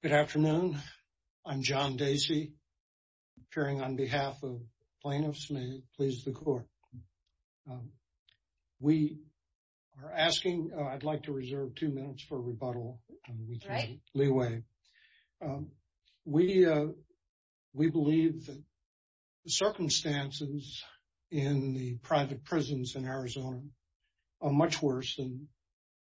Good afternoon. I'm John Dacey, appearing on behalf of plaintiffs. May it please the court. We are asking, I'd like to reserve two minutes for rebuttal, with leeway. We believe that the circumstances in the private prisons in Arizona are much worse than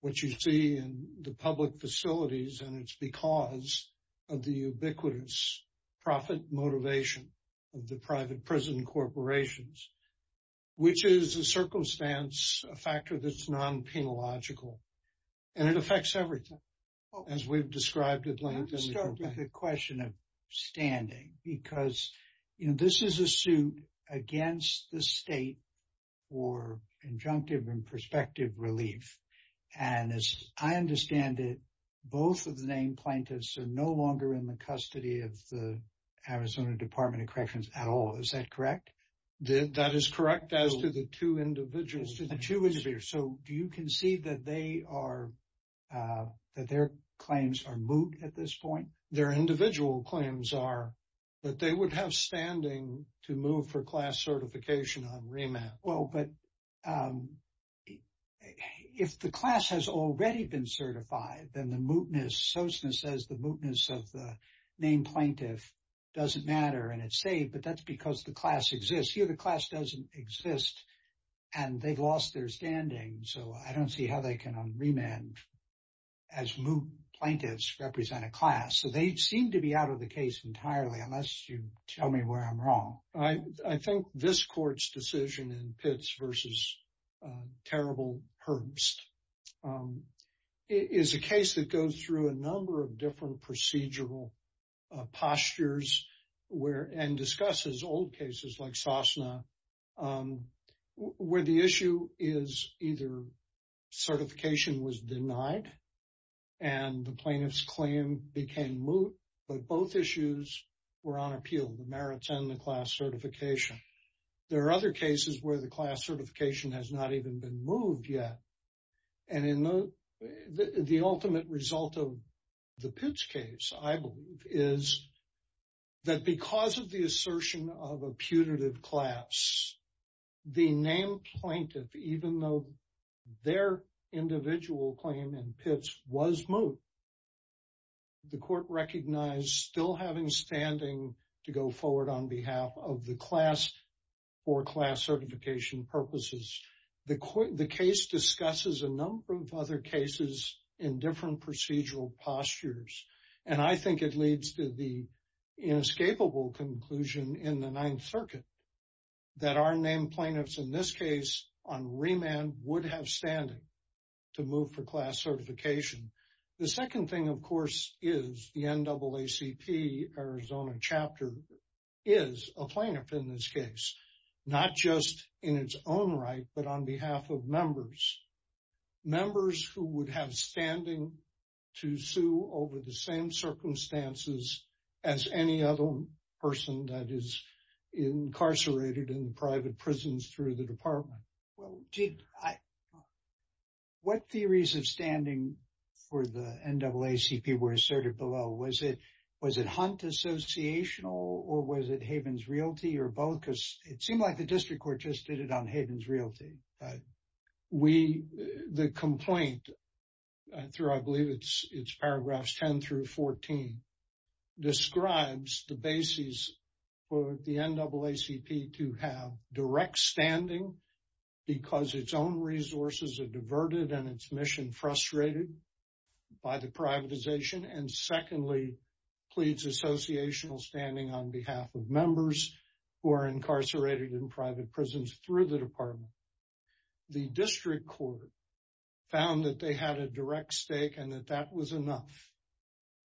what you see in the public facilities. And it's because of the ubiquitous profit motivation of the private prison corporations, which is a circumstance, a factor that's non-penalogical. And it affects everything, as we've described at length in the complaint. The question of standing, because this is a suit against the state for injunctive and prospective relief. And as I understand it, both of the named plaintiffs are no longer in the custody of the Arizona Department of Corrections at all. Is that correct? That is correct, as to the two individuals. As to the two individuals. So, do you concede that their claims are moot at this point? Their individual claims are that they would have standing to move for class certification on remand. Well, but if the class has already been certified, then the mootness, Sosna says, the mootness of the named plaintiff doesn't matter, and it's safe. But that's because the class exists. Here, the class doesn't exist, and they've lost their standing. So, I don't see how they can unremand as moot plaintiffs represent a class. So, they seem to be out of the case entirely, unless you tell me where I'm wrong. I think this court's decision in Pitts v. Terrible Herbst is a case that goes through a number of different procedural postures, and discusses old cases like Sosna, where the issue is either certification was denied, and the plaintiff's claim became moot, but both issues were on appeal, the merits and the class certification. There are other cases where the class certification has not even been moved yet. And the ultimate result of the Pitts case, I believe, is that because of the assertion of a putative class, the named plaintiff, even though their individual claim in Pitts was moot, the court recognized still having standing to go forward on behalf of the class for class certification purposes. The case discusses a number of other cases in different procedural postures. And I think it leads to the inescapable conclusion in the Ninth Circuit that our named plaintiffs in this case on remand would have standing to move for class certification. The second thing, of course, is the NAACP Arizona chapter is a plaintiff in this case, not just in its own right, but on behalf of members, members who would have standing to sue over the same circumstances as any other person that is incarcerated in private prisons through the department. Robert R. Reilly Well, what theories of standing for the NAACP were asserted below? Was it Hunt Associational, or was it Havens Realty, or both? Because it seemed like the district court just did it on Havens Realty. Robert R. Reilly We, the complaint, through I believe it's paragraphs 10 through 14, describes the basis for the NAACP to have direct standing because its own resources are diverted and its mission frustrated by the privatization. And secondly, pleads associational standing on behalf of members who are incarcerated in private prisons through the department. The district court found that they had a direct stake and that that was enough.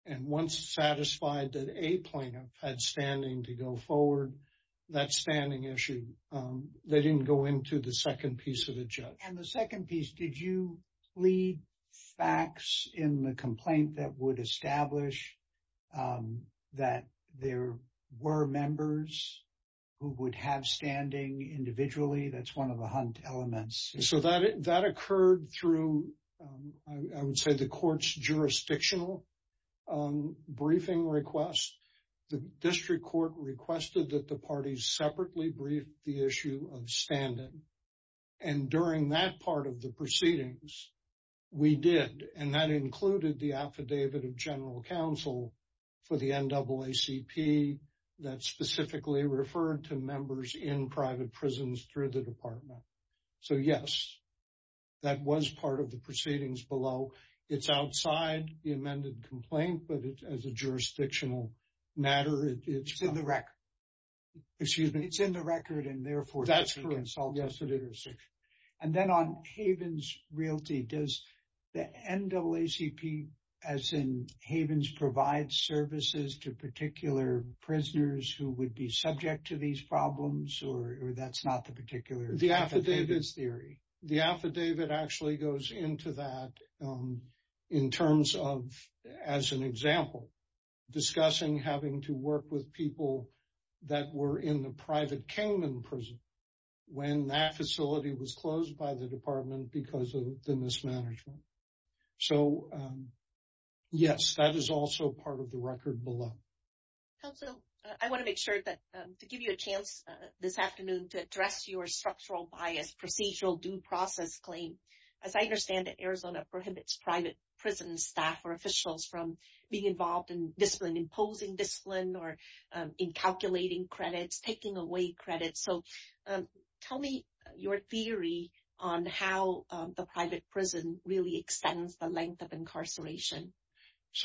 And once satisfied that a plaintiff had standing to go forward, that standing issue, they didn't go into the second piece of the judge. Robert R. Reilly And the second piece, did you lead facts in the complaint that would establish that there were members who would have standing individually? That's one of the Hunt elements. Robert R. Reilly So that occurred through, I would say, the court's jurisdictional briefing request. The district court requested that the parties separately brief the issue of standing. And during that part of the proceedings, we did. And that included the affidavit of general counsel for the NAACP that specifically referred to members in private prisons through the department. So, yes, that was part of the proceedings below. It's outside the amended complaint, but as a jurisdictional matter, it's not. Robert R. Reilly It's in the record. Robert R. Reilly Excuse me? Robert R. Reilly It's in the record, and therefore... Robert R. Reilly Robert R. Reilly And then on Havens Realty, does the NAACP, as in Havens, provide services to particular prisoners who would be subject to these problems, or that's not the particular theory? Robert R. Reilly The affidavit actually goes into that in terms of, as an example, discussing having to work with people that were in the private containment prison when that facility was closed by the department because of the mismanagement. So, yes, that is also part of the record below. Yvonne Perreault Counsel, I want to make sure that to give you a chance this afternoon to address your structural bias procedural due process claim. As I understand it, Arizona prohibits private prison staff or officials from being involved in discipline, imposing discipline, or in calculating credits, taking away credits. So, tell me your theory on how the private prison really extends the length of incarceration.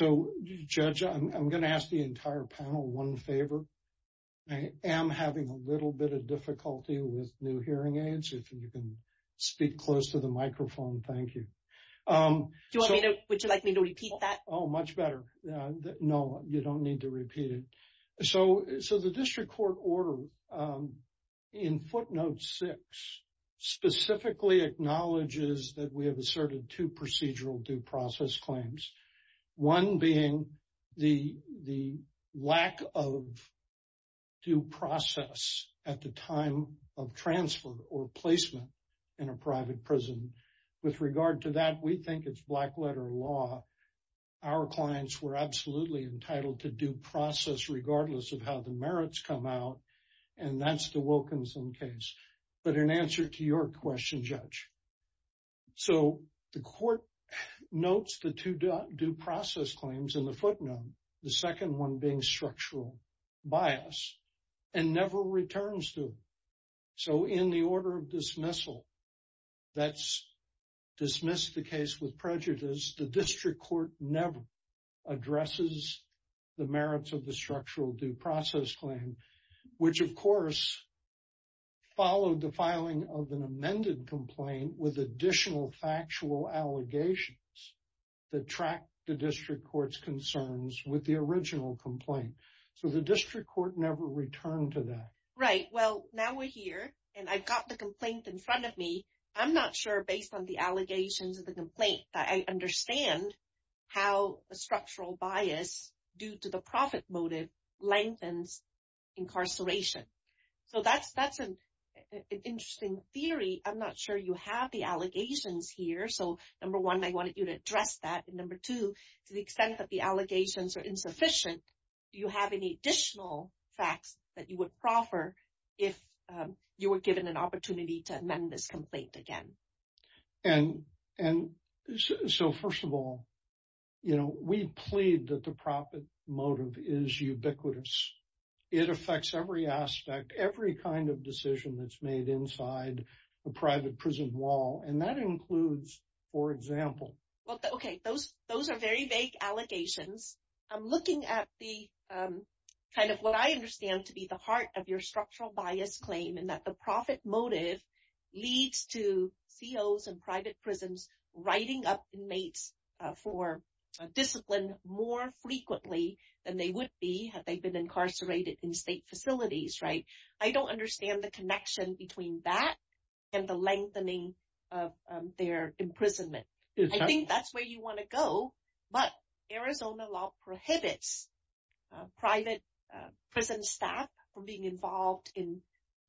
Robert R. Reilly So, Judge, I'm going to ask the entire panel one favor. I am having a little bit of difficulty with new hearing aids. If you can speak close to the microphone, thank you. Yvonne Perreault Would you like me to repeat that? Robert R. Reilly Oh, much better. No, you don't need to repeat it. So, the district court order in footnote six specifically acknowledges that we have asserted two procedural due process claims, one being the lack of due process at the time of transfer or placement in a private prison. With regard to that, we think it's black letter law. Our clients were absolutely entitled to due process regardless of how the merits come out, and that's the Wilkinson case. But in answer to your question, Judge, so the court notes the two due process claims in the footnote, the second one being structural bias, and never returns to it. So, in the order of dismissal, that's dismissed the case with addresses the merits of the structural due process claim, which, of course, followed the filing of an amended complaint with additional factual allegations that track the district court's concerns with the original complaint. So, the district court never returned to that. Yvonne Perreault Right. Well, now we're here, and I've got the complaint in front of me. I'm not sure, based on the allegations of the complaint, that I understand how a structural bias due to the profit motive lengthens incarceration. So, that's an interesting theory. I'm not sure you have the allegations here. So, number one, I wanted you to address that. And number two, to the extent that the allegations are insufficient, do you have any additional facts that you would proffer if you were given an opportunity to amend this complaint again? And so, first of all, you know, we plead that the profit motive is ubiquitous. It affects every aspect, every kind of decision that's made inside a private prison wall, and that includes, for example. Yvonne Perreault Okay. Those are very vague allegations. I'm looking at the kind of what I understand to be the heart of your structural bias claim, and that the profit motive leads to COs and private prisons writing up inmates for discipline more frequently than they would be had they been incarcerated in state facilities, right? I don't understand the connection between that and the lengthening of their imprisonment. I think that's where you want to go, but Arizona law prohibits private prison staff from being involved in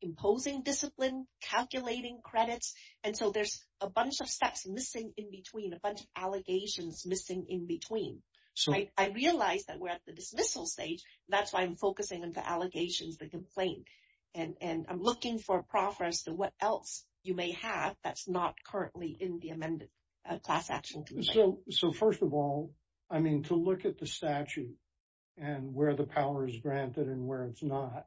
imposing discipline, calculating credits. And so, there's a bunch of steps missing in between, a bunch of allegations missing in between. So, I realize that we're at the dismissal stage. That's why I'm focusing on the allegations, the complaint. And I'm looking for proffers to what else you may have that's not I mean, to look at the statute and where the power is granted and where it's not.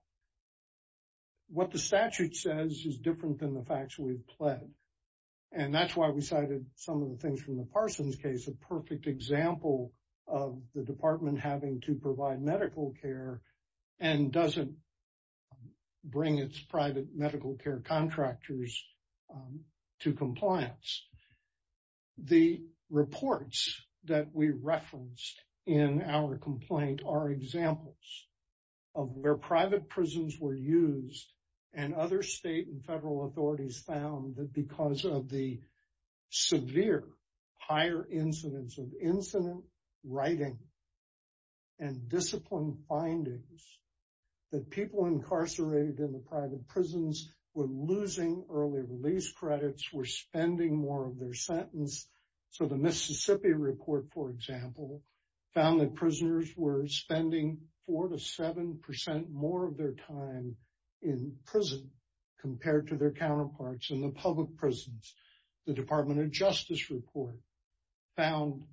What the statute says is different than the facts we've pled. And that's why we cited some of the things from the Parsons case, a perfect example of the department having to provide medical care and doesn't bring its private medical care contractors to compliance. The reports that we referenced in our complaint are examples of where private prisons were used and other state and federal authorities found that because of the severe higher incidence of incident writing and discipline findings that people incarcerated in the private prisons were losing early release credits, were spending more of their sentence. So, the Mississippi report, for example, found that prisoners were spending four to seven percent more of their time in prison compared to their counterparts in the public prisons. The Department of Justice report found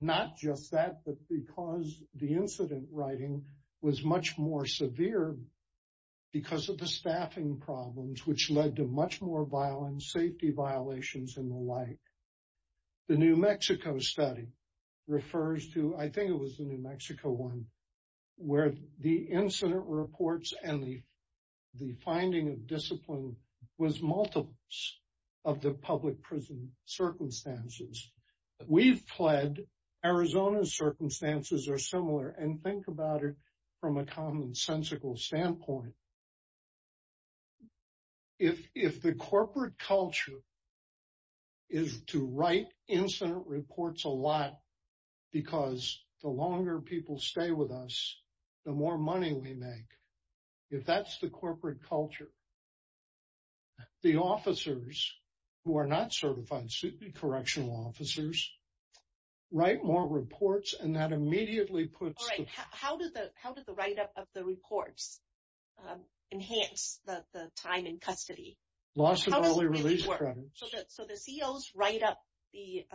not just that, but because the incident writing was much more severe because of the staffing problems, which led to much more violence, safety violations and the like. The New Mexico study refers to, I think it was the New Mexico one, where the incident reports and the finding of discipline was multiple of the public prison circumstances. We've pled Arizona's circumstances are similar and think about it from a common sensical standpoint. If the corporate culture is to write incident reports a lot because the longer people stay with us, the more money we make. If that's the corporate culture, then the officers who are not certified correctional officers write more reports and that immediately puts the... All right. How did the write up of the reports enhance the time in custody? Loss of early release credits. So, the COs write up the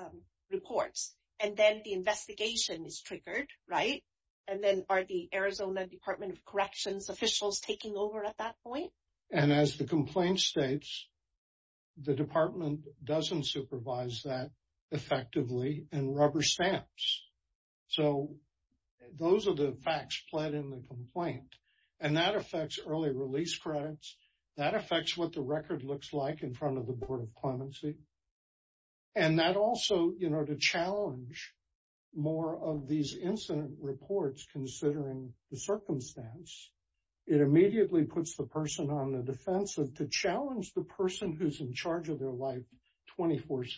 reports and then the investigation is triggered, right? And then are the Arizona Department of Corrections officials taking over at that point? And as the complaint states, the department doesn't supervise that effectively and rubber stamps. So, those are the facts pled in the complaint. And that affects early release credits, that affects what the record looks like in front of the Board of Clemency. And that also to challenge more of these incident reports considering the circumstance, it immediately puts the person on the defensive to challenge the person who's in charge of their life 24-7.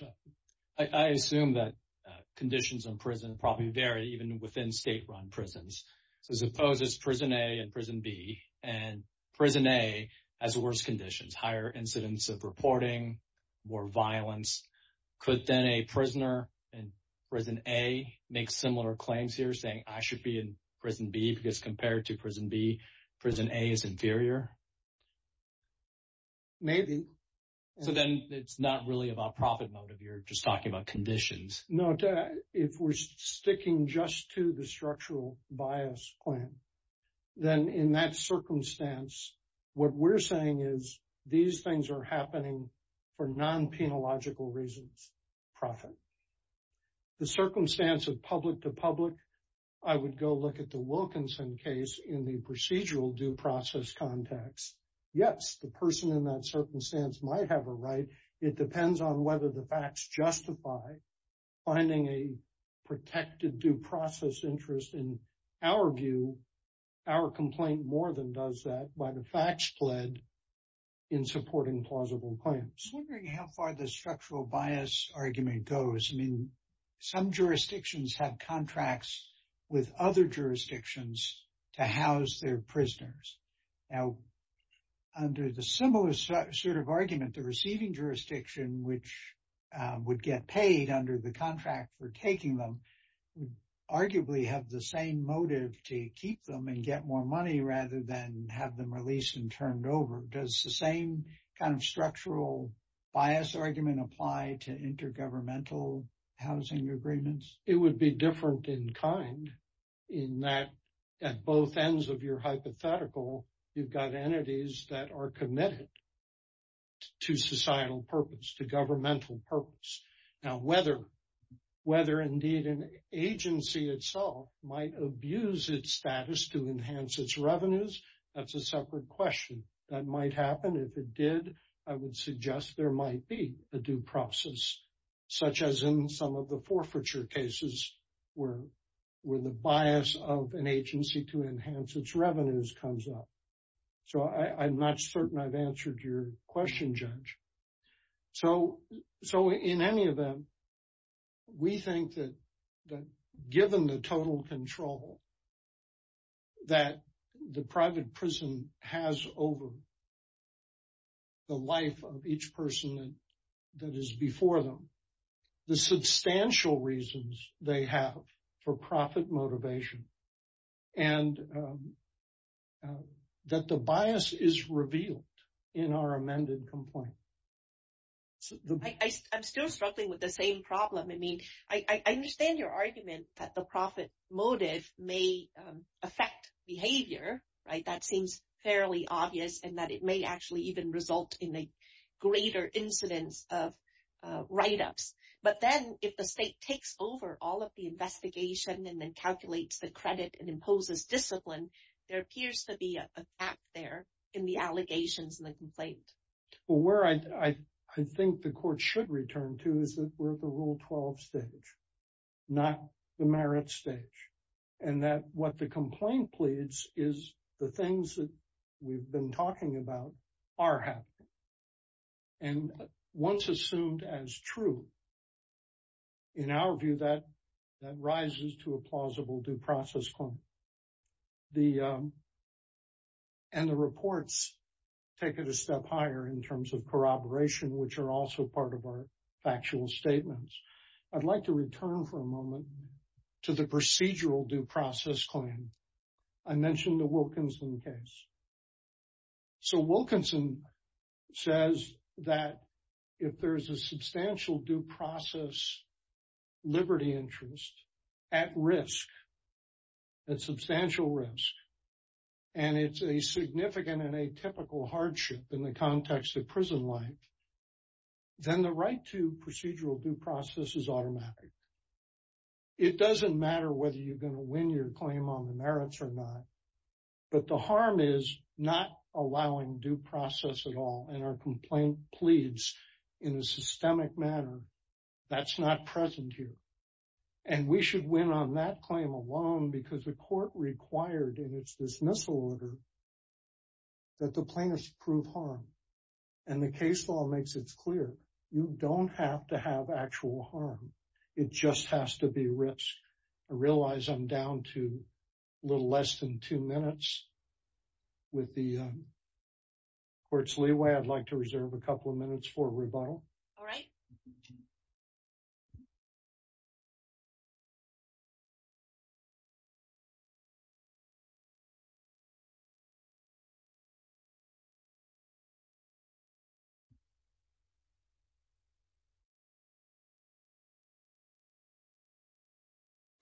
I assume that conditions in prison probably vary even within state-run prisons. So, suppose it's prison A and prison B and prison A has worse conditions, higher incidents of reporting, more violence. Could then a prisoner in prison A make similar claims here saying, I should be in prison B because compared to prison B, prison A is inferior? Maybe. So, then it's not really about profit motive. You're just talking about conditions. No. If we're sticking just to the structural bias plan, then in that circumstance, what we're saying is these things are happening for non-penological reasons, profit. The circumstance of public to public, I would go look at the Wilkinson case in the procedural due process context. Yes, the person in that circumstance might have a right. It depends on whether the facts justify finding a protected due process interest in our view. Our complaint more than does that by the facts pled in supporting plausible claims. How far the structural bias argument goes? I mean, some jurisdictions have contracts with other jurisdictions to house their prisoners. Now, under the similar sort of argument, the receiving jurisdiction, which would get paid under the contract for taking them, arguably have the same motive to keep them and get more money rather than have them released and turned over. Does the same kind of structural bias argument apply to intergovernmental housing agreements? It would be different in kind in that at both ends of your hypothetical, you've got entities that are committed to societal purpose, to governmental purpose. Now, whether indeed an agency itself might abuse its status to enhance its revenues, that's a separate question. That might happen. If it did, I would suggest there might be a due process, such as in some of the forfeiture cases where the bias of an agency to enhance its revenues comes up. So, I'm not certain I've answered your question, Judge. So, in any event, we think that given the total control that the private prison has over the life of each person that is before them, the substantial reasons they have for profit motivation and that the bias is revealed in our amended complaint. I'm still struggling with the same problem. I mean, I understand your argument that the profit motive may affect behavior, right? That seems fairly obvious and that it may actually even result in a greater incidence of write-ups. But then if the state takes over all of the investigation and then calculates the credit and imposes discipline, there appears to be a allegations in the complaint. Well, where I think the court should return to is that we're at the Rule 12 stage, not the merit stage. And that what the complaint pleads is the things that we've been talking about are happening. And once assumed as true, in our view, that rises to a plausible due process claim. And the reports take it a step higher in terms of corroboration, which are also part of our factual statements. I'd like to return for a moment to the procedural due process claim. I mentioned the Wilkinson case. So, Wilkinson says that if there's a substantial due process liberty interest at risk, at substantial risk, and it's a significant and atypical hardship in the context of prison life, then the right to procedural due process is automatic. It doesn't matter whether you're not allowing due process at all. And our complaint pleads in a systemic manner, that's not present here. And we should win on that claim alone because the court required, and it's this missile order, that the plaintiffs prove harm. And the case law makes it clear. You don't have to have actual harm. It just has to be risk. I realize I'm down to a little less than two minutes with the court's leeway. I'd like to reserve a couple of minutes for rebuttal. All right.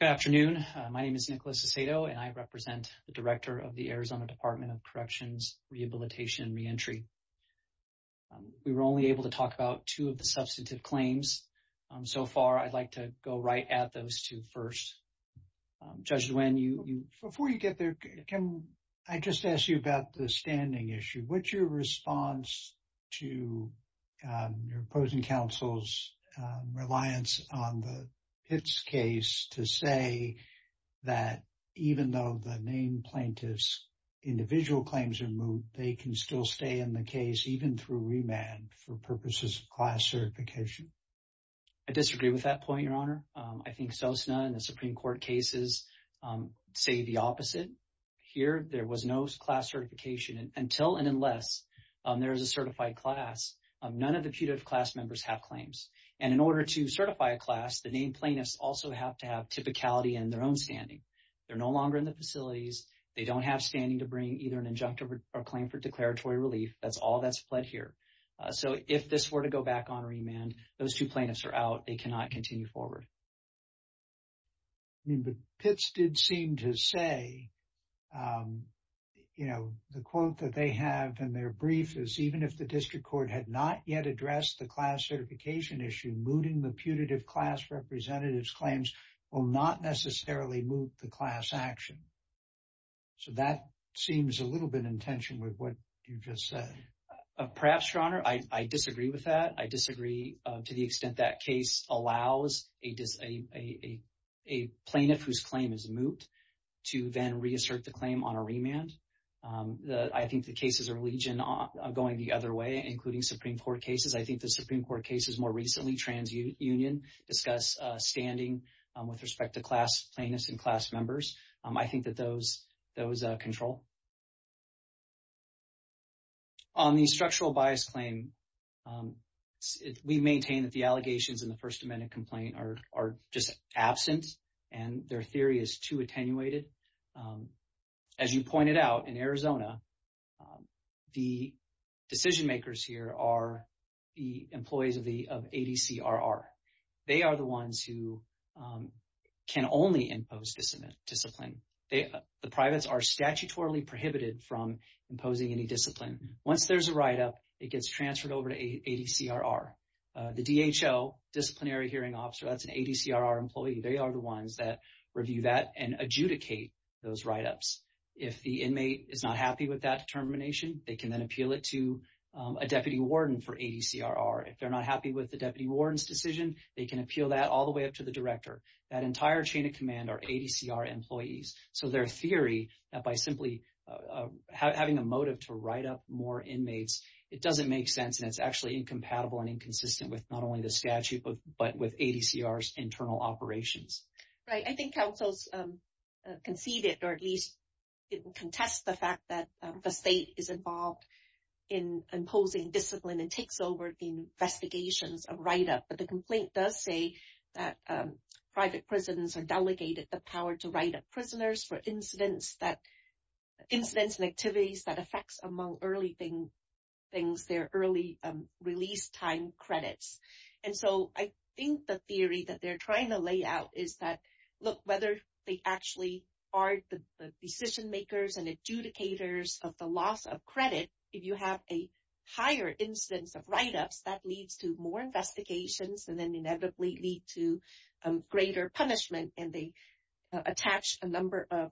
Good afternoon. My name is Nicholas Aceto, and I represent the director of the Arizona Department of Corrections, Rehabilitation, and Reentry. We were only able to talk about two of the substantive claims. So far, I'd like to go right at those two first. Judge Duane, you? Before you get there, Kim, I just asked you about the standing issue. What's your response to your opposing counsel's reliance on the Pitts case to say that even though the main plaintiff's individual claims are moved, they can still stay in the case even through remand for purposes of class certification? I disagree with that point, Your Honor. I think Sosna and the Supreme Court cases say the opposite. Here, there was no class certification until and unless there is a certified class. None of the putative class members have claims. And in order to certify a class, the main plaintiffs also have to have typicality in their own standing. They're no longer in the either an injunctive or claim for declaratory relief. That's all that's fled here. So if this were to go back on remand, those two plaintiffs are out. They cannot continue forward. I mean, but Pitts did seem to say, you know, the quote that they have in their brief is, even if the district court had not yet addressed the class certification issue, mooting the putative class representative's claims will not necessarily move the class action. So that seems a little bit in tension with what you just said. Perhaps, Your Honor, I disagree with that. I disagree to the extent that case allows a plaintiff whose claim is moot to then reassert the claim on a remand. I think the cases are legion going the other way, including Supreme Court cases. I think the Supreme Court cases more recently, TransUnion, discuss standing with respect to class plaintiffs and class members. I think that those control. On the structural bias claim, we maintain that the allegations in the First Amendment complaint are just absent and their theory is too attenuated. As you pointed out in Arizona, the decision makers are the employees of ADCRR. They are the ones who can only impose discipline. The privates are statutorily prohibited from imposing any discipline. Once there's a write-up, it gets transferred over to ADCRR. The DHL, disciplinary hearing officer, that's an ADCRR employee. They are the ones that review that and adjudicate those write-ups. If the inmate is not happy with that determination, they can then appeal it to a deputy warden for ADCRR. If they're not happy with the deputy warden's decision, they can appeal that all the way up to the director. That entire chain of command are ADCRR employees. So their theory, by simply having a motive to write up more inmates, it doesn't make sense and it's actually incompatible and inconsistent with not only the statute but with ADCRR's internal operations. Right. I think councils concede or at least contest the fact that the state is involved in imposing discipline and takes over the investigations of write-up. But the complaint does say that private prisons are delegated the power to write up prisoners for incidents and activities that affects among early things, their early release time credits. And so I think the theory that they're trying to lay out is that, whether they actually are the decision makers and adjudicators of the loss of credit, if you have a higher instance of write-ups, that leads to more investigations and then inevitably lead to greater punishment. And they attach a number of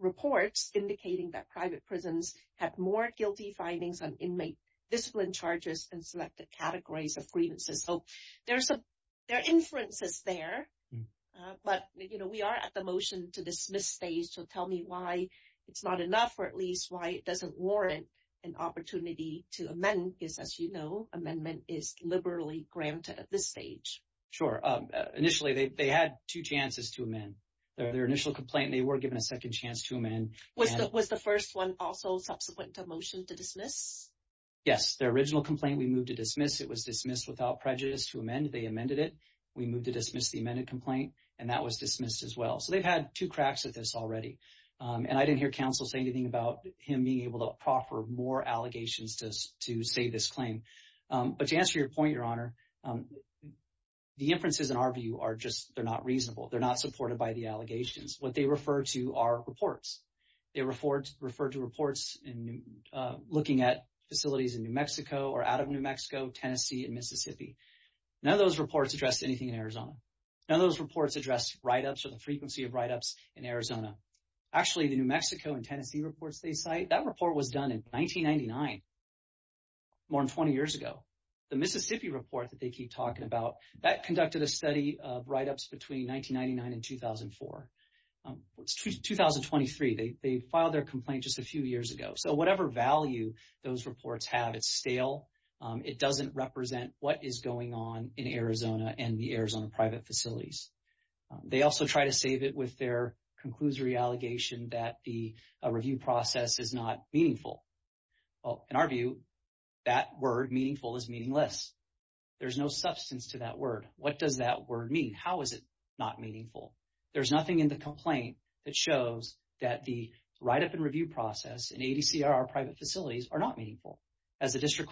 reports indicating that private prisons have more guilty findings on inmate discipline charges and selected categories of grievances. So there are inferences there, but we are at the motion to dismiss stage. So tell me why it's not enough or at least why it doesn't warrant an opportunity to amend, because as you know, amendment is liberally granted at this stage. Sure. Initially, they had two chances to amend. Their initial complaint, they were given a second chance to amend. Was the first one also subsequent to a motion to dismiss? Yes. Their original complaint, we moved to dismiss. It was dismissed without prejudice to amend. They amended it. We moved to dismiss the amended complaint, and that was dismissed as well. So they've had two cracks at this already. And I didn't hear counsel say anything about him being able to proffer more allegations to say this claim. But to answer your point, Your Honor, the inferences in our view are just, they're not reasonable. They're not supported by the allegations. What they refer to are reports. They refer to reports looking at facilities in New Mexico or out of New Mexico, Tennessee, and Mississippi. None of those reports address anything in Arizona. None of those reports address write-ups or the frequency of write-ups in Arizona. Actually, the New Mexico and Tennessee reports they cite, that report was done in 1999, more than 20 years ago. The Mississippi report that they keep talking about, that conducted a study of write-ups between 1999 and 2004. It's 2023. They filed their complaint just a few years ago. So whatever value those reports have, it's stale. It doesn't represent what is going on in Arizona and the Arizona private facilities. They also try to save it with their conclusory allegation that the review process is not meaningful. Well, in our view, that word meaningful is meaningless. There's no substance to that word. What does that word mean? How is it not meaningful? There's nothing in the complaint that shows that the write-up and review process in ADCRR private facilities are not meaningful. As the District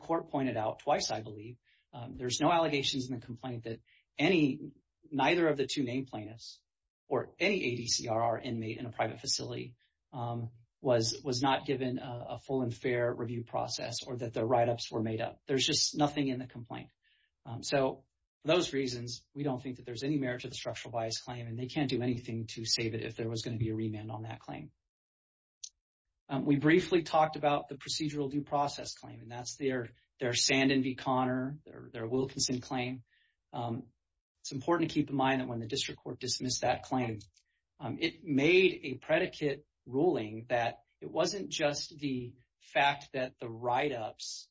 Court pointed out twice, I believe, there's no allegations in the complaint that any, neither of the two name plaintiffs or any ADCRR inmate in a private facility was not given a full and fair review process or that the write-ups were made up. There's just nothing in the complaint. So for those reasons, we don't think that there's any merit to the structural bias claim, and they can't do anything to save it if there was going to be a remand on that claim. We briefly talked about the procedural due process claim, and that's their Sandin v. Conner, their Wilkinson claim. It's important to keep in mind that when the District Court dismissed that claim, it made a predicate ruling that it wasn't just the fact that the write-ups,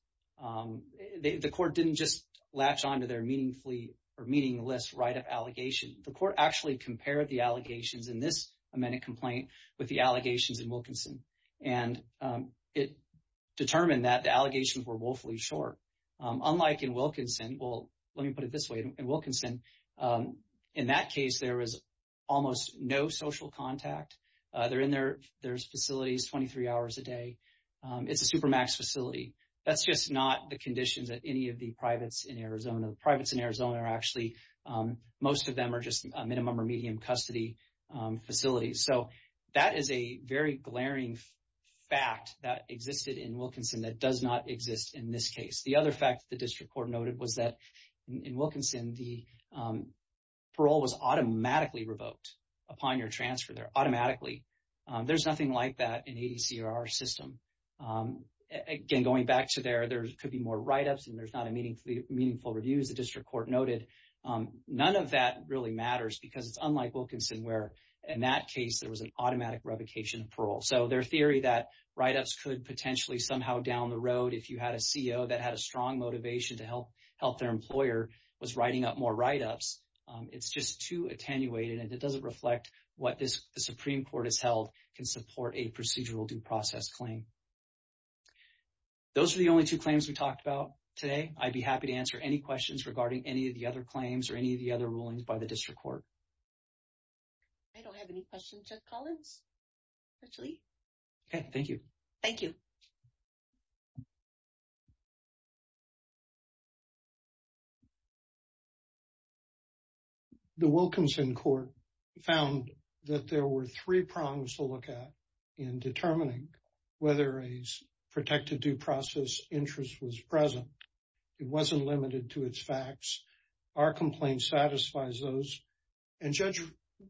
the Court didn't just latch onto their meaningfully or meaningless write-up allegation. The Court actually compared the allegations in this amended complaint with the allegations in Wilkinson, and it determined that the allegations were woefully short. Unlike in Wilkinson, well, no social contact. They're in their facilities 23 hours a day. It's a supermax facility. That's just not the conditions at any of the privates in Arizona. The privates in Arizona are actually, most of them are just a minimum or medium custody facility. So that is a very glaring fact that existed in Wilkinson that does not exist in this case. The other fact that the automatically. There's nothing like that in ADC or our system. Again, going back to there, there could be more write-ups, and there's not a meaningful review, as the District Court noted. None of that really matters because it's unlike Wilkinson, where in that case, there was an automatic revocation of parole. So their theory that write-ups could potentially somehow down the road, if you had a CEO that had a strong motivation to help their employer, was writing up more write-ups. It's just too attenuated, and it doesn't reflect what the Supreme Court has held can support a procedural due process claim. Those are the only two claims we talked about today. I'd be happy to answer any questions regarding any of the other claims or any of the other rulings by the District Court. I don't have any questions. Jeff Collins, actually. Okay. Thank you. Thank you. The Wilkinson Court found that there were three prongs to look at in determining whether a protected due process interest was present. It wasn't limited to its facts. Our complaint satisfies those. And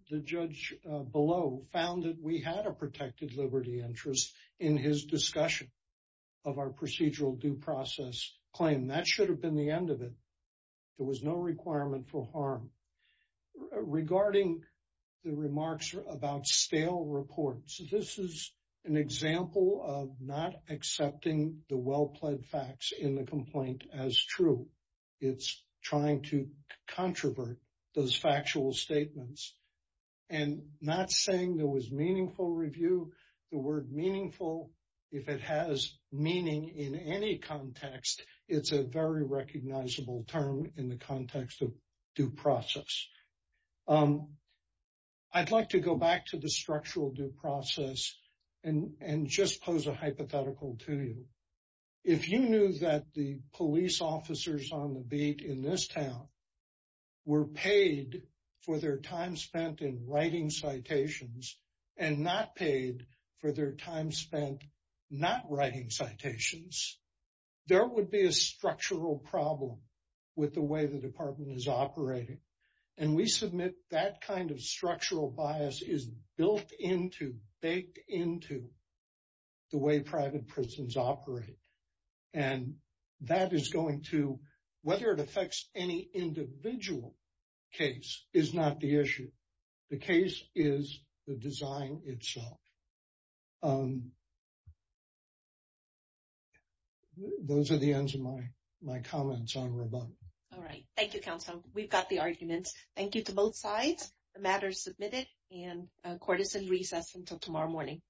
the judge below found that we had a protected liberty interest in his discussion of our procedural due process claim. That should have been the end of it. There was no requirement for harm. Regarding the remarks about stale reports, this is an example of not accepting the well-plaid facts in the complaint as true. It's trying to controvert those factual statements. And not saying there was meaningful review, the word meaningful, if it has meaning in any context, it's a very recognizable term in the context of due process. I'd like to go back to the structural due process and just pose a hypothetical to you. If you knew that the police officers on the beat in this town were paid for their time spent in writing citations and not paid for their time spent not writing citations, there would be a structural problem with the way the department is operating. And we submit that kind of structural bias is built into, baked into the way private prisons operate. And that is going to, whether it affects any individual case is not the issue. The case is the design itself. Those are the ends of my comments on rebuttal. All right. Thank you, counsel. We've got the arguments. Thank you to both sides. The matter is submitted and court is in recess until tomorrow morning. Thank you.